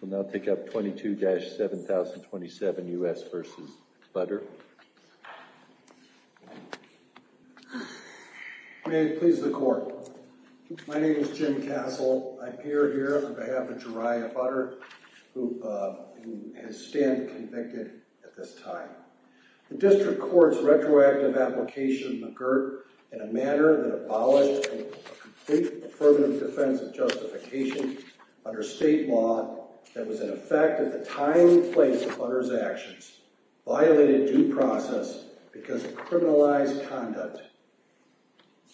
We'll now take up 22-7027 U.S. v. Budder. May it please the Court. My name is Jim Castle. I appear here on behalf of Jeriah Budder, who has stand convicted at this time. The District Court's retroactive application occurred in a manner that abolished a complete affirmative defense of justification under state law that was in effect at the time and place of Budder's actions, violated due process because of criminalized conduct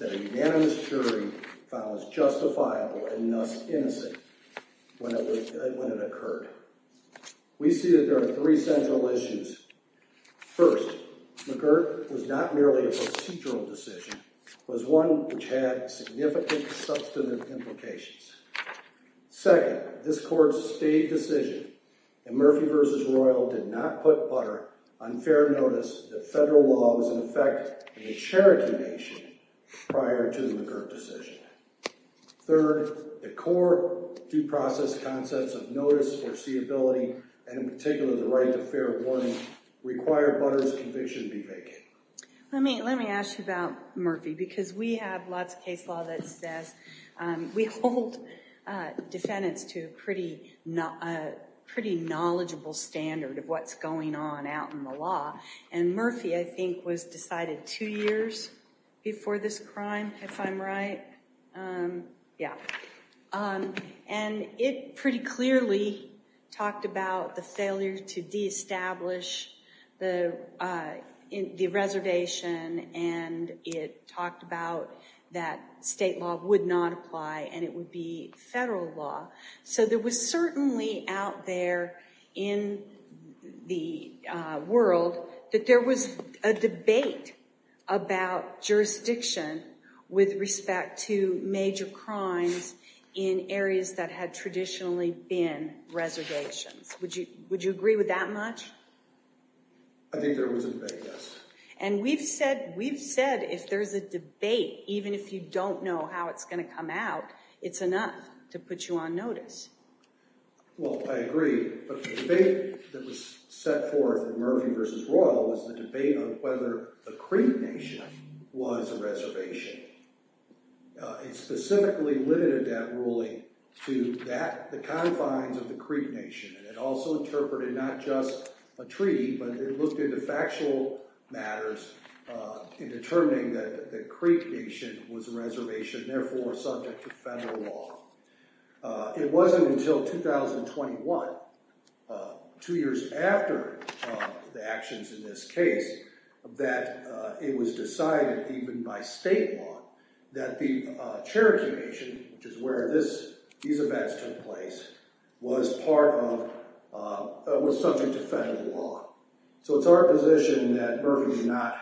that a unanimous jury found was justifiable and thus innocent when it occurred. We see that there are three central issues. First, McGirt was not merely a procedural decision. It was one which had significant substantive implications. Second, this Court's state decision in Murphy v. Royal did not put Budder on fair notice that federal law was in effect in the Cherokee Nation prior to the McGirt decision. Third, the Court's due process concepts of notice foreseeability, and in particular the right to fair warning, require Budder's conviction to be vacant. Let me ask you about Murphy because we have lots of case law that says we hold defendants to a pretty knowledgeable standard of what's going on out in the law. And Murphy, I think, was decided two years before this crime, if I'm right. Yeah. And it pretty clearly talked about the failure to de-establish the reservation. And it talked about that state law would not apply and it would be federal law. So there was certainly out there in the world that there was a debate about jurisdiction with respect to major crimes in areas that had traditionally been reservations. Would you agree with that much? I think there was a debate, yes. And we've said if there's a debate, even if you don't know how it's going to come out, it's enough to put you on notice. Well, I agree. But the debate that was set forth in Murphy v. Royal was the debate on whether the Creek Nation was a reservation. It specifically limited that ruling to the confines of the Creek Nation. And it also interpreted not just a treaty, but it looked into factual matters in determining that the Creek Nation was a reservation, therefore subject to federal law. It wasn't until 2021, two years after the actions in this case, that it was decided even by state law that the Cherokee Nation, which is where these events took place, was subject to federal law. So it's our position that Murphy did not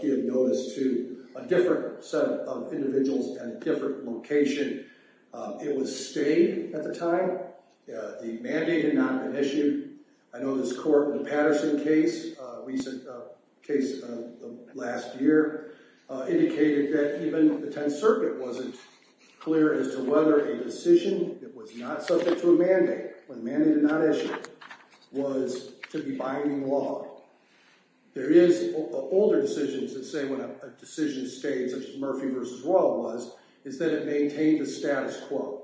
give notice to a different set of individuals at a different location. It was stayed at the time. The mandate had not been issued. I know this court in the Patterson case, a recent case last year, indicated that even the Tenth Circuit wasn't clear as to whether a decision that was not subject to a mandate, when a mandate did not issue it, was to be binding law. There is older decisions that say when a decision stayed, such as Murphy v. Royal was, is that it maintained the status quo.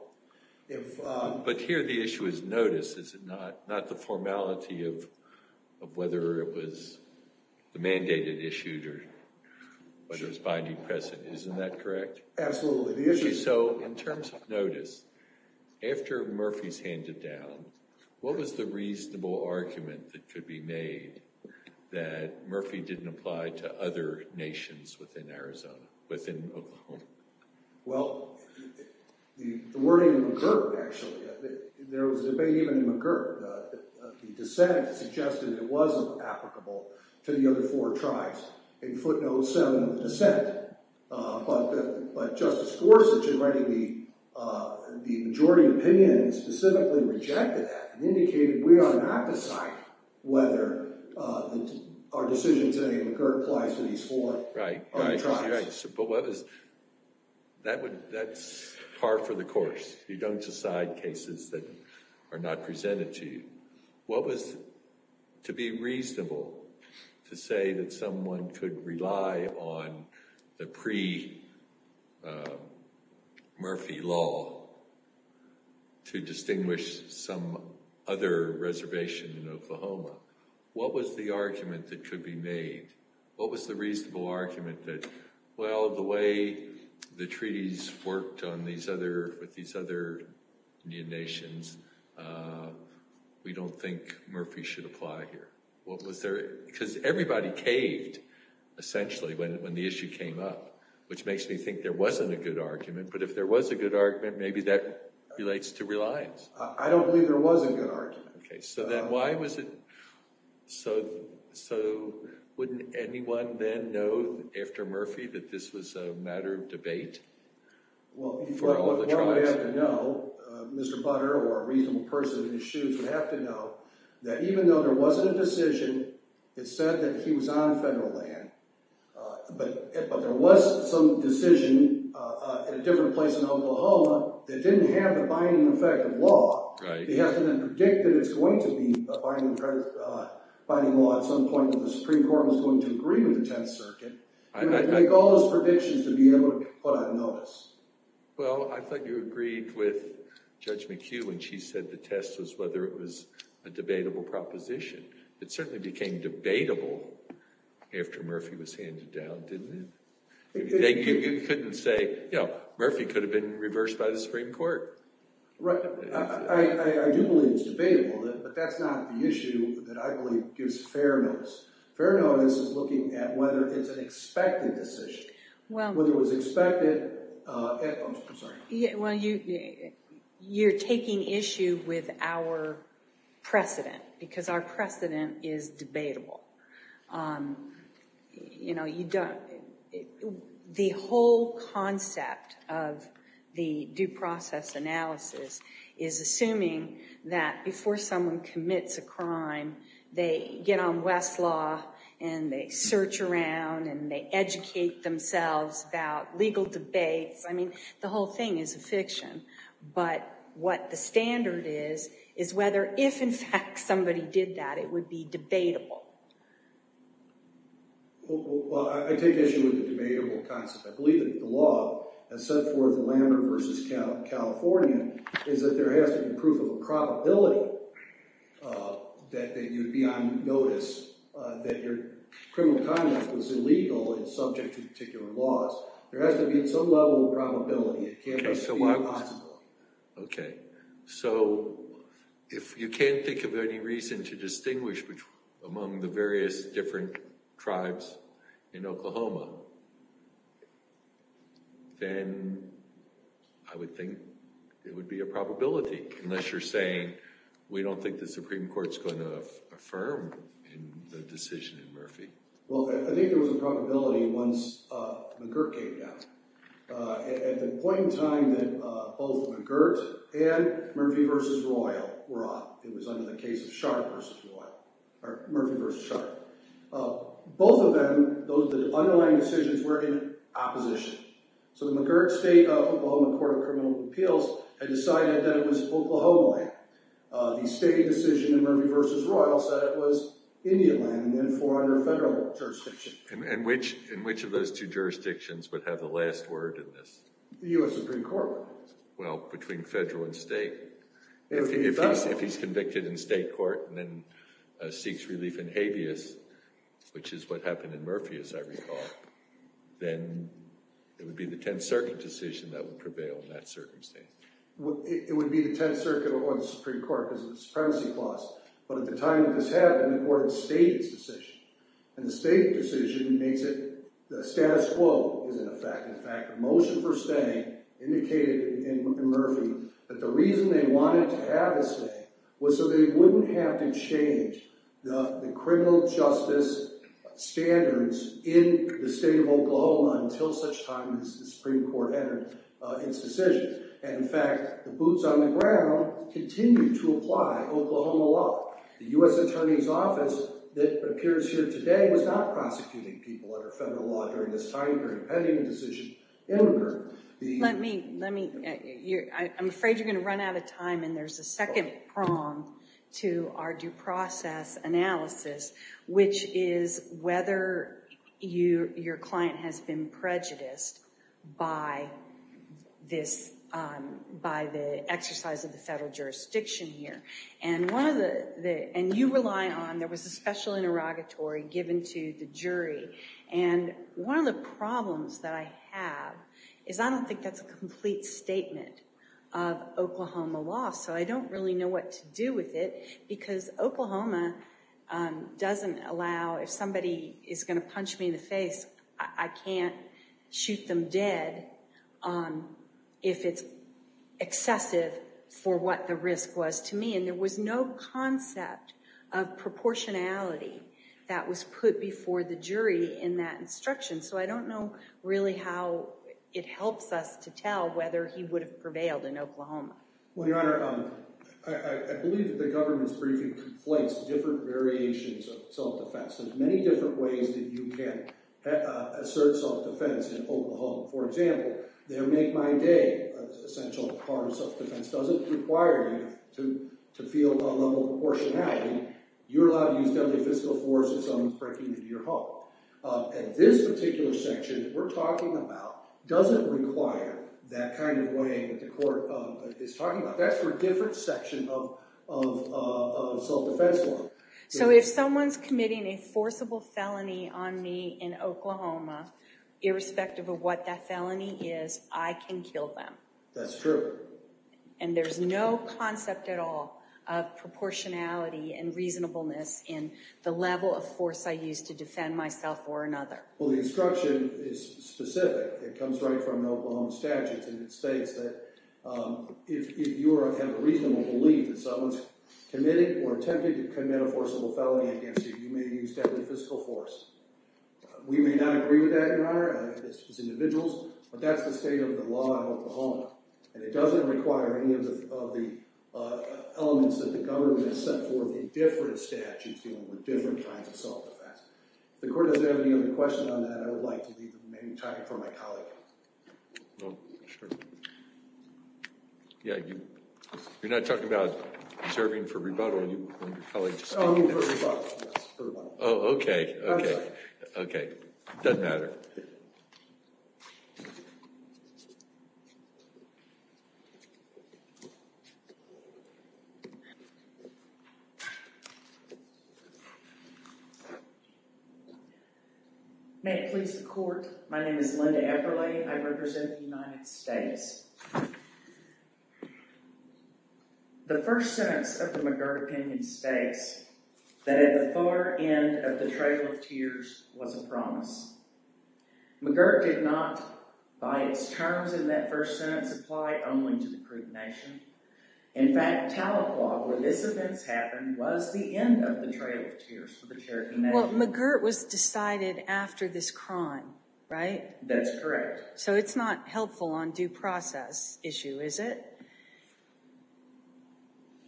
But here the issue is notice, is it not? Not the formality of whether it was the mandate it issued or whether it was binding precedent. Isn't that correct? Absolutely. So in terms of notice, after Murphy's handed down, what was the reasonable argument that could be made that Murphy didn't apply to other nations within Arizona, within Oklahoma? Well, the wording of McGirt, actually, there was a debate even in McGirt that the dissent suggested it wasn't applicable to the other four tribes. It footnoted some of the dissent, but Justice Gorsuch, in writing the majority opinion, specifically rejected that and indicated we are not deciding whether our decision today in McGirt applies to these four tribes. That's par for the course. You don't decide cases that are not presented to you. What was to be reasonable to say that someone could rely on the pre-Murphy law to distinguish some other reservation in Oklahoma? What was the argument that could be made? What was the reasonable argument that, well, the way the treaties worked with these other Indian nations, we don't think Murphy should apply here? Because everybody caved, essentially, when the issue came up, which makes me think there wasn't a good argument, but if there was a good argument, maybe that relates to reliance. I don't believe there was a good argument. Okay, so then why was it, so wouldn't anyone then know, after Murphy, that this was a matter of debate for all of the tribes? Well, you probably have to know, Mr. Butter or a reasonable person in his shoes would have to know, that even though there wasn't a decision, it said that he was on federal land, but there was some decision in a different place in Oklahoma that didn't have the binding effect of law. He has to then predict that it's going to be a binding law at some point when the Supreme Court is going to agree with the Tenth Circuit. You have to make all those predictions to be able to put on notice. Well, I thought you agreed with Judge McHugh when she said the test was whether it was a debatable proposition. It certainly became debatable after Murphy was handed down, didn't it? You couldn't say, you know, Murphy could have been reversed by the Supreme Court. Right, I do believe it's debatable, but that's not the issue that I believe gives fairness. Fairness is looking at whether it's an expected decision. Whether it was expected, I'm sorry. Well, you're taking issue with our precedent, because our precedent is debatable. You know, the whole concept of the due process analysis is assuming that before someone commits a crime, they get on Westlaw and they search around and they educate themselves about legal debates. I mean, the whole thing is a fiction. But what the standard is, is whether if, in fact, somebody did that, it would be debatable. Well, I take issue with the debatable concept. I believe that the law has set forth a laminar versus California, is that there has to be proof of a probability that you'd be on notice, that your criminal conduct was illegal and subject to particular laws. There has to be some level of probability. Okay, so if you can't think of any reason to distinguish among the various different tribes in Oklahoma, then I would think it would be a probability, unless you're saying we don't think the Supreme Court's going to affirm the decision in Murphy. Well, I think there was a probability once McGirt came down. At the point in time that both McGirt and Murphy v. Royal were up, it was under the case of Sharp v. Royal, or Murphy v. Sharp. Both of them, the underlying decisions were in opposition. So the McGirt State of Oklahoma Court of Criminal Appeals had decided that it was Oklahoma land. The state decision in Murphy v. Royal said it was Indian land, and then four other federal jurisdictions. And which of those two jurisdictions would have the last word in this? The U.S. Supreme Court. Well, between federal and state. If he's convicted in state court and then seeks relief in habeas, which is what happened in Murphy, as I recall, then it would be the Tenth Circuit decision that would prevail in that circumstance. It would be the Tenth Circuit or the Supreme Court because of the supremacy clause. But at the time that this happened, the court had stayed its decision. And the state decision makes it, the status quo is in effect. In fact, the motion for stay indicated in Murphy that the reason they wanted to have a stay was so they wouldn't have to change the criminal justice standards in the state of Oklahoma until such time as the Supreme Court entered its decision. And in fact, the boots on the ground continue to apply Oklahoma law. The U.S. Attorney's Office that appears here today was not prosecuting people under federal law during this time period pending a decision in Murphy. Let me, let me, I'm afraid you're going to run out of time, and there's a second prong to our due process analysis, which is whether your client has been prejudiced by this, by the exercise of the federal jurisdiction here. And one of the, and you rely on, there was a special interrogatory given to the jury. And one of the problems that I have is I don't think that's a complete statement of Oklahoma law. So I don't really know what to do with it because Oklahoma doesn't allow, if somebody is going to punch me in the face, I can't shoot them dead if it's excessive for what the risk was to me. And there was no concept of proportionality that was put before the jury in that instruction. So I don't know really how it helps us to tell whether he would have prevailed in Oklahoma. Well, Your Honor, I believe that the government's briefing conflates different variations of self-defense. There's many different ways that you can assert self-defense in Oklahoma. For example, their make-my-day essential harm self-defense doesn't require you to feel a level of proportionality. You're allowed to use deadly physical force if someone is breaking into your home. And this particular section that we're talking about doesn't require that kind of weighing that the court is talking about. That's for a different section of self-defense law. So if someone's committing a forcible felony on me in Oklahoma, irrespective of what that felony is, I can kill them. That's true. And there's no concept at all of proportionality and reasonableness in the level of force I use to defend myself or another. Well, the instruction is specific. It comes right from the Oklahoma statutes. And it states that if you have a reasonable belief that someone's committing or attempting to commit a forcible felony against you, you may use deadly physical force. We may not agree with that, Your Honor, as individuals, but that's the state of the law in Oklahoma. And it doesn't require any of the elements that the government has set forth in different statutes dealing with different kinds of self-defense. If the court doesn't have any other question on that, I would like to leave the remaining time for my colleague. Oh, sure. Yeah, you're not talking about serving for rebuttal, you and your colleague just speaking. Oh, I mean for rebuttal, yes, for rebuttal. Oh, OK, OK. I'm sorry. OK, doesn't matter. May it please the court, my name is Linda Eberle. I represent the United States. The first sentence of the McGirt opinion states that at the far end of the Trail of Tears was a promise. McGirt did not, by its terms in that first sentence, apply only to the Caribbean Nation. In fact, Tahlequah, where this event happened, was the end of the Trail of Tears for the Caribbean Nation. Well, McGirt was decided after this crown, right? That's correct. So it's not helpful on due process issue, is it?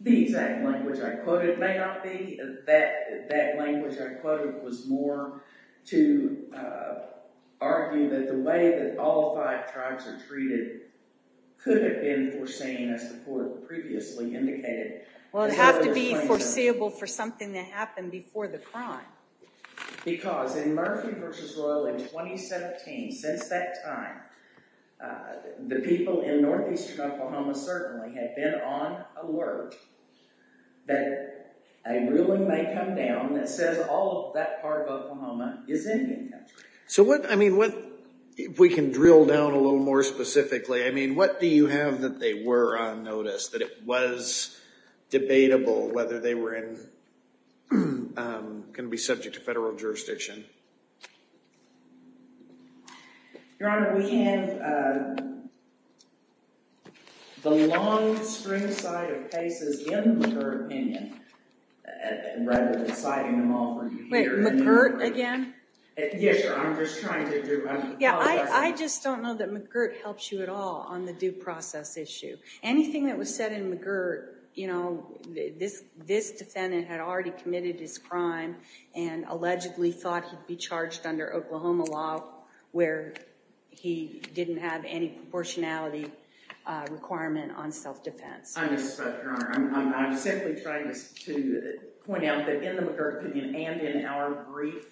The exact language I quoted may not be. That language I quoted was more to argue that the way that all five tribes are treated could have been foreseen, as the court previously indicated. Well, it would have to be foreseeable for something to happen before the crown. Because in Murphy v. Royal in 2017, since that time, the people in northeastern Oklahoma certainly had been on alert that a ruling may come down that says all of that part of Oklahoma is Indian country. So what, I mean, if we can drill down a little more specifically, I mean, what do you have that they were on notice, that it was debatable whether they were going to be subject to federal jurisdiction? Your Honor, we have the long spring side of cases in the McGirt opinion. Rather than citing them all for you here. Wait, McGirt again? Yes, Your Honor. I'm just trying to do my part. I just don't know that McGirt helps you at all on the due process issue. Anything that was said in McGirt, this defendant had already committed his crime and allegedly thought he'd be charged under Oklahoma law, where he didn't have any proportionality requirement on self-defense. I'm just, Your Honor, I'm simply trying to point out that in the McGirt opinion and in our brief,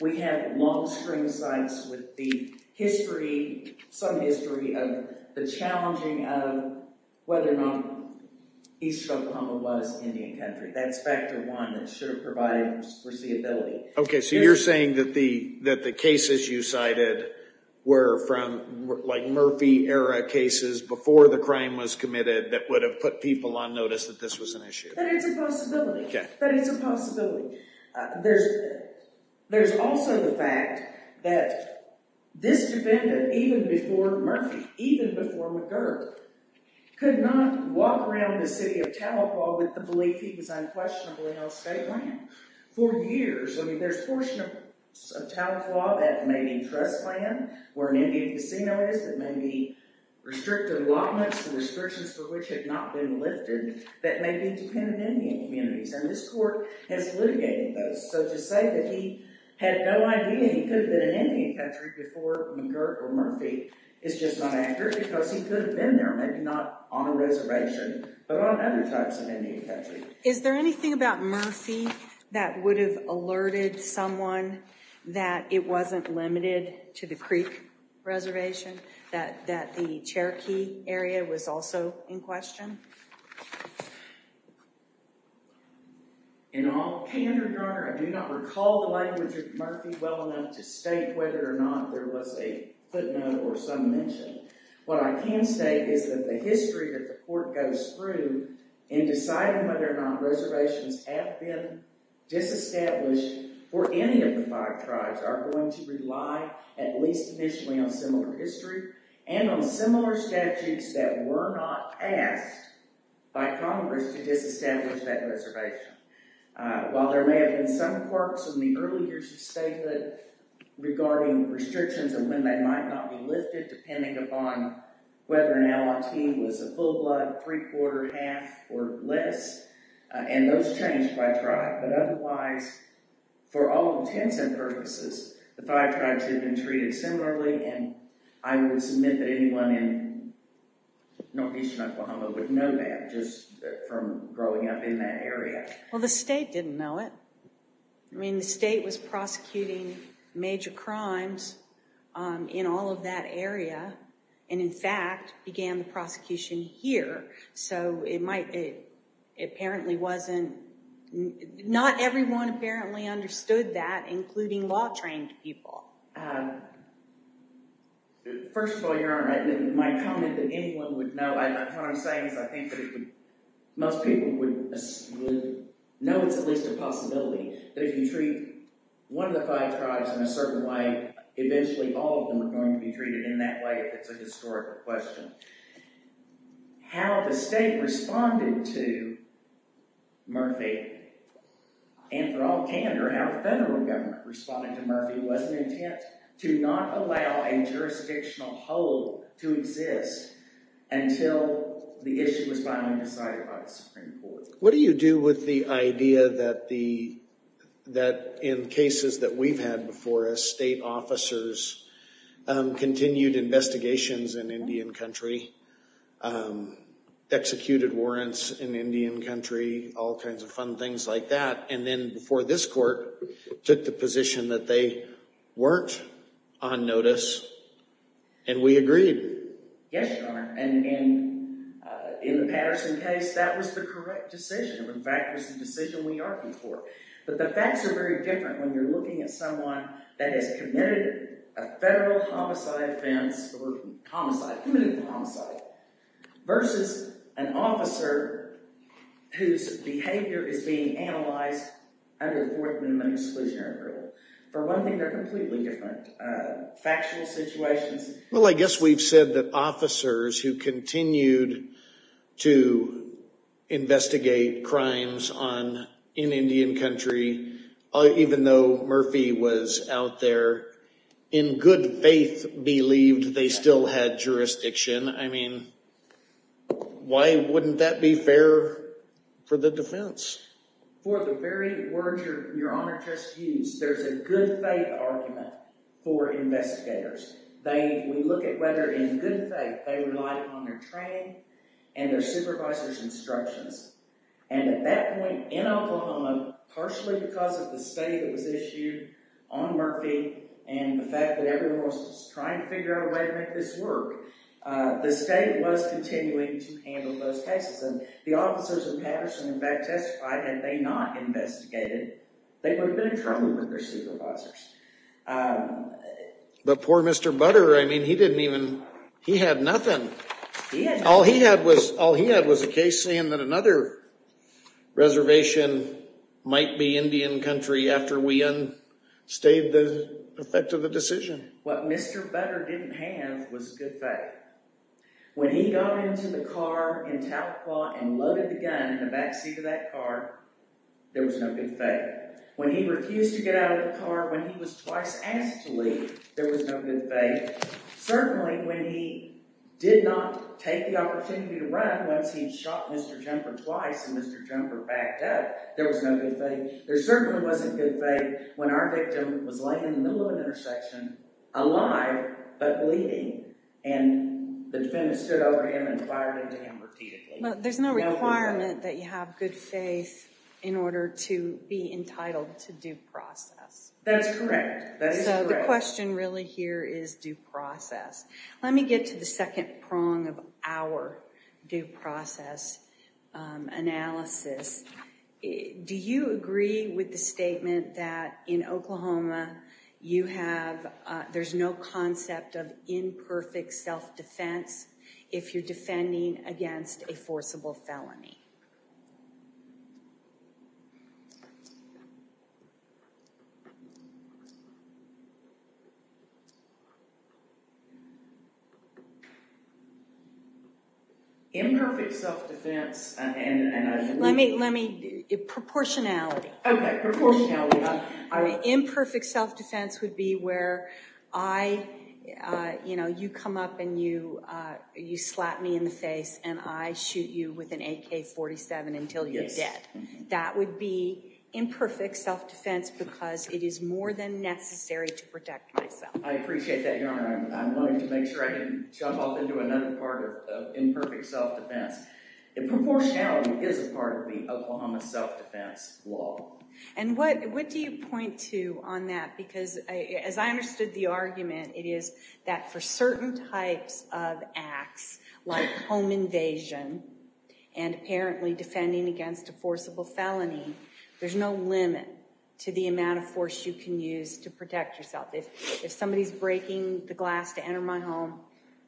we have long spring sides with the history, some history of the challenging of whether or not East Oklahoma was Indian country. That's factor one that should have provided foreseeability. OK. So you're saying that the cases you cited were from like Murphy era cases before the crime was committed that would have put people on notice that this was an issue. That is a possibility. That is a possibility. There's also the fact that this defendant, even before Murphy, even before McGirt, could not walk around the city of Talapaw with the belief he was unquestionably on state land for years. I mean, there's portions of Talapaw that may be in trust land, where an Indian casino is, that may be restricted allotments, the restrictions for which had not been lifted, that may be dependent Indian communities. And this court has litigated those. So to say that he had no idea he could have been an Indian country before McGirt or Murphy is just not accurate because he could have been there, maybe not on a reservation, but on other types of Indian country. Is there anything about Murphy that would have alerted someone that it wasn't limited to the Creek Reservation, that the Cherokee area was also in question? In all candor, Your Honor, I do not recall the language of Murphy well enough to state whether or not there was a footnote or some mention. What I can say is that the history that the court goes through in deciding whether or not reservations have been disestablished for any of the five tribes are going to rely at least initially on similar history and on similar statutes that were not asked by Congress to disestablish that reservation. While there may have been some quirks in the early years of statehood regarding restrictions and when they might not be lifted, depending upon whether an LLT was a full blood, three-quarter, half, or less. And those changed by tribe. But otherwise, for all intents and purposes, the five tribes had been treated similarly. And I would submit that anyone in northeastern Oklahoma would know that, just from growing up in that area. Well, the state didn't know it. I mean, the state was prosecuting major crimes in all of that area. And in fact, began the prosecution here. So it apparently wasn't, not everyone apparently understood that, including law-trained people. First of all, Your Honor, my comment that anyone would know, what I'm saying is I think that most people would know it's at least a possibility that if you treat one of the five tribes in a certain way, eventually all of them are going to be treated in that way, if it's a historical question. How the state responded to Murphy, and for all candor, how the federal government responded to Murphy, was an intent to not allow a jurisdictional hold to exist until the issue was finally decided by the Supreme Court. What do you do with the idea that in cases that we've had before us, state officers continued investigations in Indian country, executed warrants in Indian country, all kinds of fun things like that, and then before this court, took the position that they weren't on notice, and we agreed. Yes, Your Honor, and in the Patterson case, that was the correct decision. In fact, it was the decision we argued for. But the facts are very different when you're looking at someone that has committed a federal homicide offense or homicide, committed a homicide, versus an officer whose behavior is being analyzed under the Fourth Amendment Exclusionary Rule. For one thing, they're completely different factual situations. Well, I guess we've said that officers who continued to investigate crimes in Indian country, even though Murphy was out there, in good faith believed they still had jurisdiction. I mean, why wouldn't that be fair for the defense? For the very words Your Honor just used, there's a good faith argument for investigators. We look at whether, in good faith, they relied on their training and their supervisor's instructions. And at that point, in Oklahoma, partially because of the state that was issued on Murphy and the fact that everyone was just trying to figure out a way to make this work, the state was continuing to handle those cases. And the officers in Patterson, in fact, testified. Had they not investigated, they would have been in trouble with their supervisors. But poor Mr. Butter, I mean, he didn't even, he had nothing. He had nothing. You're saying that another reservation might be Indian country after we unstayed the effect of the decision. What Mr. Butter didn't have was good faith. When he got into the car in Tahlequah and loaded the gun in the back seat of that car, there was no good faith. When he refused to get out of the car, when he was twice asked to leave, there was no good faith. Certainly, when he did not take the opportunity to run once he'd shot Mr. Jumper twice and Mr. Jumper backed up, there was no good faith. There certainly wasn't good faith when our victim was laying in the middle of an intersection, alive but bleeding, and the defendants stood over him and fired into him repeatedly. There's no requirement that you have good faith in order to be entitled to due process. That's correct. So the question really here is due process. Let me get to the second prong of our due process analysis. Do you agree with the statement that in Oklahoma, there's no concept of imperfect self-defense if you're defending against a forcible felony? Imperfect self-defense and I believe... Let me, let me, proportionality. Okay, proportionality. Imperfect self-defense would be where I, you know, you come up and you slap me in the face and I shoot you with an AK-47 until you're dead. That would be imperfect self-defense because it is more than necessary to protect myself. I appreciate that, Your Honor. I wanted to make sure I didn't jump off into another part of imperfect self-defense. Proportionality is a part of the Oklahoma self-defense law. And what do you point to on that? Because as I understood the argument, it is that for certain types of acts like home invasion and apparently defending against a forcible felony, there's no limit to the amount of force you can use to protect yourself. If somebody's breaking the glass to enter my home,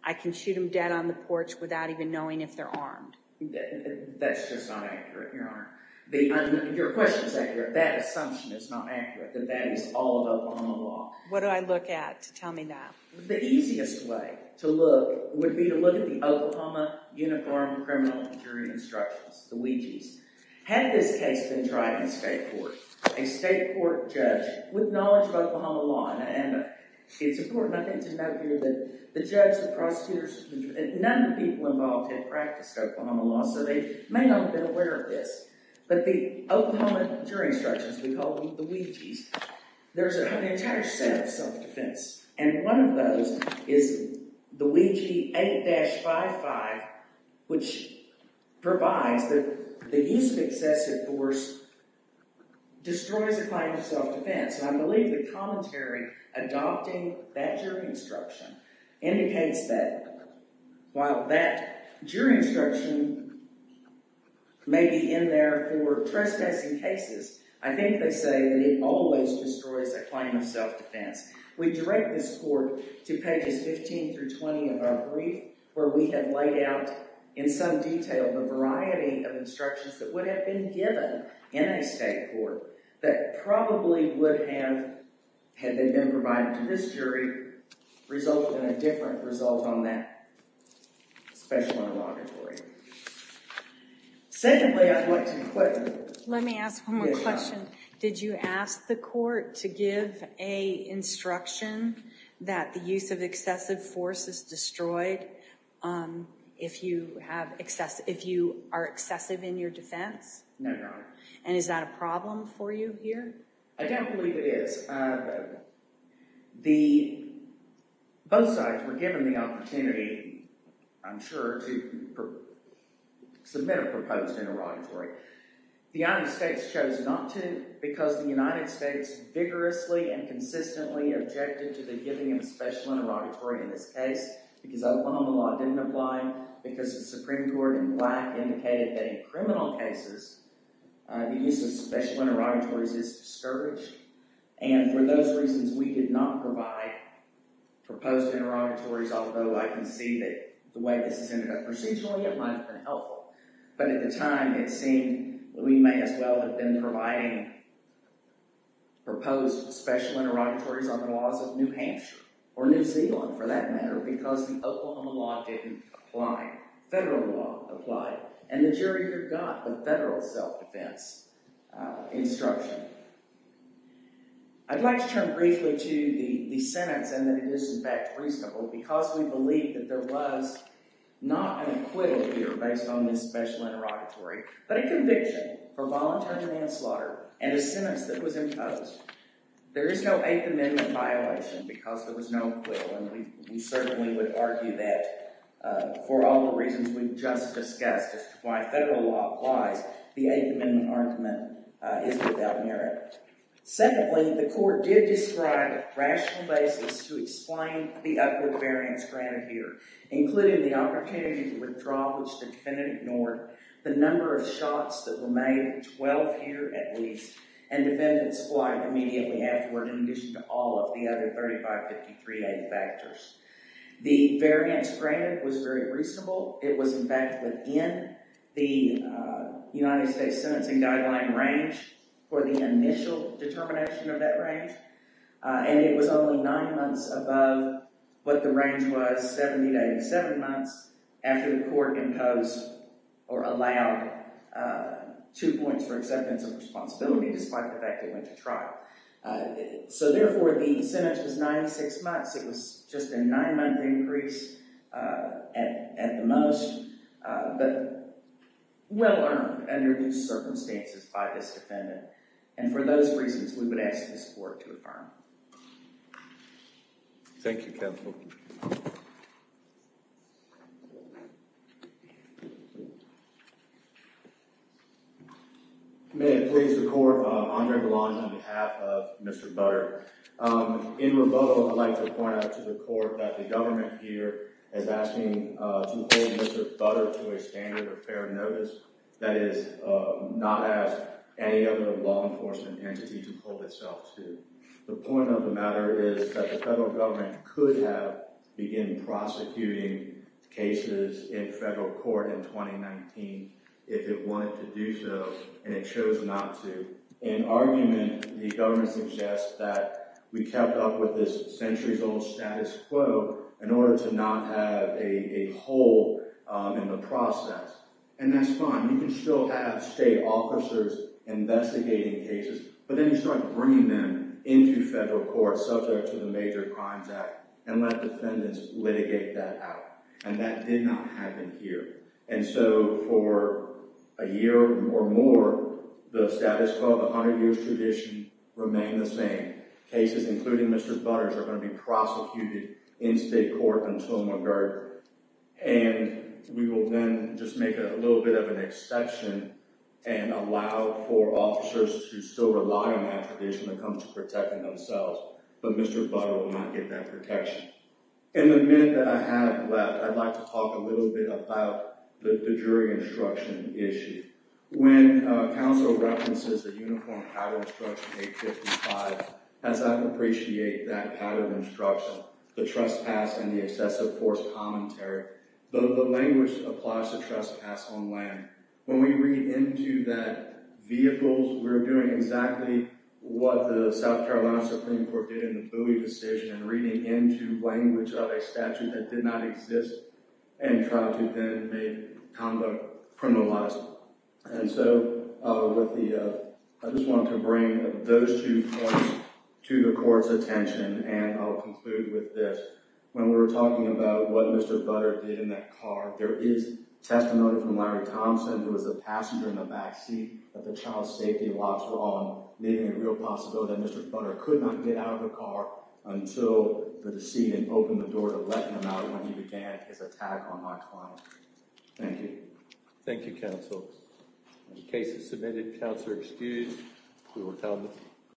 I can shoot them dead on the porch without even knowing if they're armed. That's just not accurate, Your Honor. Your question is accurate. That assumption is not accurate, that that is all of Oklahoma law. What do I look at to tell me that? The easiest way to look would be to look at the Oklahoma Uniform Criminal Injury Instructions, the WIJs. Had this case been tried in state court, a state court judge with knowledge of Oklahoma law, and it's important, I think, to note here that the judge, the prosecutors, none of the people involved had practiced Oklahoma law, so they may not have been aware of this. But the Oklahoma injury instructions, we call them the WIJs, there's an entire set of self-defense. And one of those is the WIJ 8-55, which provides that the use of excessive force destroys a claim of self-defense. And I believe the commentary adopting that jury instruction indicates that while that jury instruction may be in there for trespassing cases, I think they say that it always destroys a claim of self-defense. We direct this court to pages 15 through 20 of our brief where we have laid out in some detail the variety of instructions that would have been given in a state court that probably would have, had they been provided to this jury, resulted in a different result on that special interrogatory. Secondly, I'd like to put... Let me ask one more question. Did you ask the court to give a instruction that the use of excessive force is destroyed if you are excessive in your defense? No, Your Honor. And is that a problem for you here? I don't believe it is. Both sides were given the opportunity, I'm sure, to submit a proposed interrogatory. The United States chose not to because the United States vigorously and consistently objected to the giving of a special interrogatory in this case because Oklahoma law didn't apply, because the Supreme Court in black indicated that in criminal cases the use of special interrogatories is discouraged. And for those reasons, we did not provide proposed interrogatories, although I can see that the way this has ended up procedurally, it might have been helpful. But at the time, it seemed that we may as well have been providing proposed special interrogatories on the laws of New Hampshire, or New Zealand, for that matter, because the Oklahoma law didn't apply. Federal law applied. And the jury here got the federal self-defense instruction. I'd like to turn briefly to the sentence, and that it is in fact reasonable, because we believe that there was not an acquittal here based on this special interrogatory, but a conviction for voluntary manslaughter and a sentence that was imposed. There is no Eighth Amendment violation because there was no acquittal, and we certainly would argue that for all the reasons we've just discussed as to why federal law applies, the Eighth Amendment argument is without merit. Secondly, the court did describe a rational basis to explain the upward variance granted here, including the opportunity to withdraw, which the defendant ignored, the number of shots that were made, 12 here at least, and defendant's flight immediately afterward, in addition to all of the other 3553A factors. The variance granted was very reasonable. It was in fact within the United States Sentencing Guideline range for the initial determination of that range, and it was only nine months above what the range was 70 to 87 months after the court imposed or allowed two points for acceptance of responsibility despite the fact they went to trial. So therefore, the sentence was 96 months. It was just a nine-month increase at the most, but well-earned under due circumstances by this defendant, and for those reasons, we would ask his support to affirm. Thank you, counsel. May it please the court, Andre Belange on behalf of Mr. Butter. In rebuttal, I would like to point out to the court that the government here is asking to hold Mr. Butter to a standard of fair notice, that is, not ask any other law enforcement entity to hold itself to. The point of the matter is that the federal government could have begun prosecuting cases in federal court in 2019 if it wanted to do so, and it chose not to. In argument, the government suggests that we kept up with this centuries-old status quo in order to not have a hole in the process, and that's fine. You can still have state officers investigating cases, but then you start bringing them into federal court subject to the Major Crimes Act and let defendants litigate that out, and that did not happen here. And so for a year or more, the status quo, the 100-years tradition, remain the same. Cases, including Mr. Butter's, are going to be prosecuted in state court until Montgomery. And we will then just make a little bit of an exception and allow for officers to still rely on that tradition when it comes to protecting themselves, but Mr. Butter will not get that protection. In the minute that I have left, I'd like to talk a little bit about the jury instruction issue. When counsel references the Uniform Pattern Instruction 855, as I appreciate that pattern of instruction, the language applies the trespass and the excessive force commentary. The language applies the trespass on land. When we read into that vehicles, we're doing exactly what the South Carolina Supreme Court did in the Bowie decision in reading into language of a statute that did not exist and tried to then make conduct criminalized. And so I just wanted to bring those two points to the court's attention, and I'll conclude with this. When we were talking about what Mr. Butter did in that car, there is testimony from Larry Thompson, who was the passenger in the backseat at the child safety locks were on, making it a real possibility that Mr. Butter could not get out of the car until the decedent opened the door to let him out when he began his attack on my client. Thank you. Thank you, counsel. The case is submitted. Counselor excused.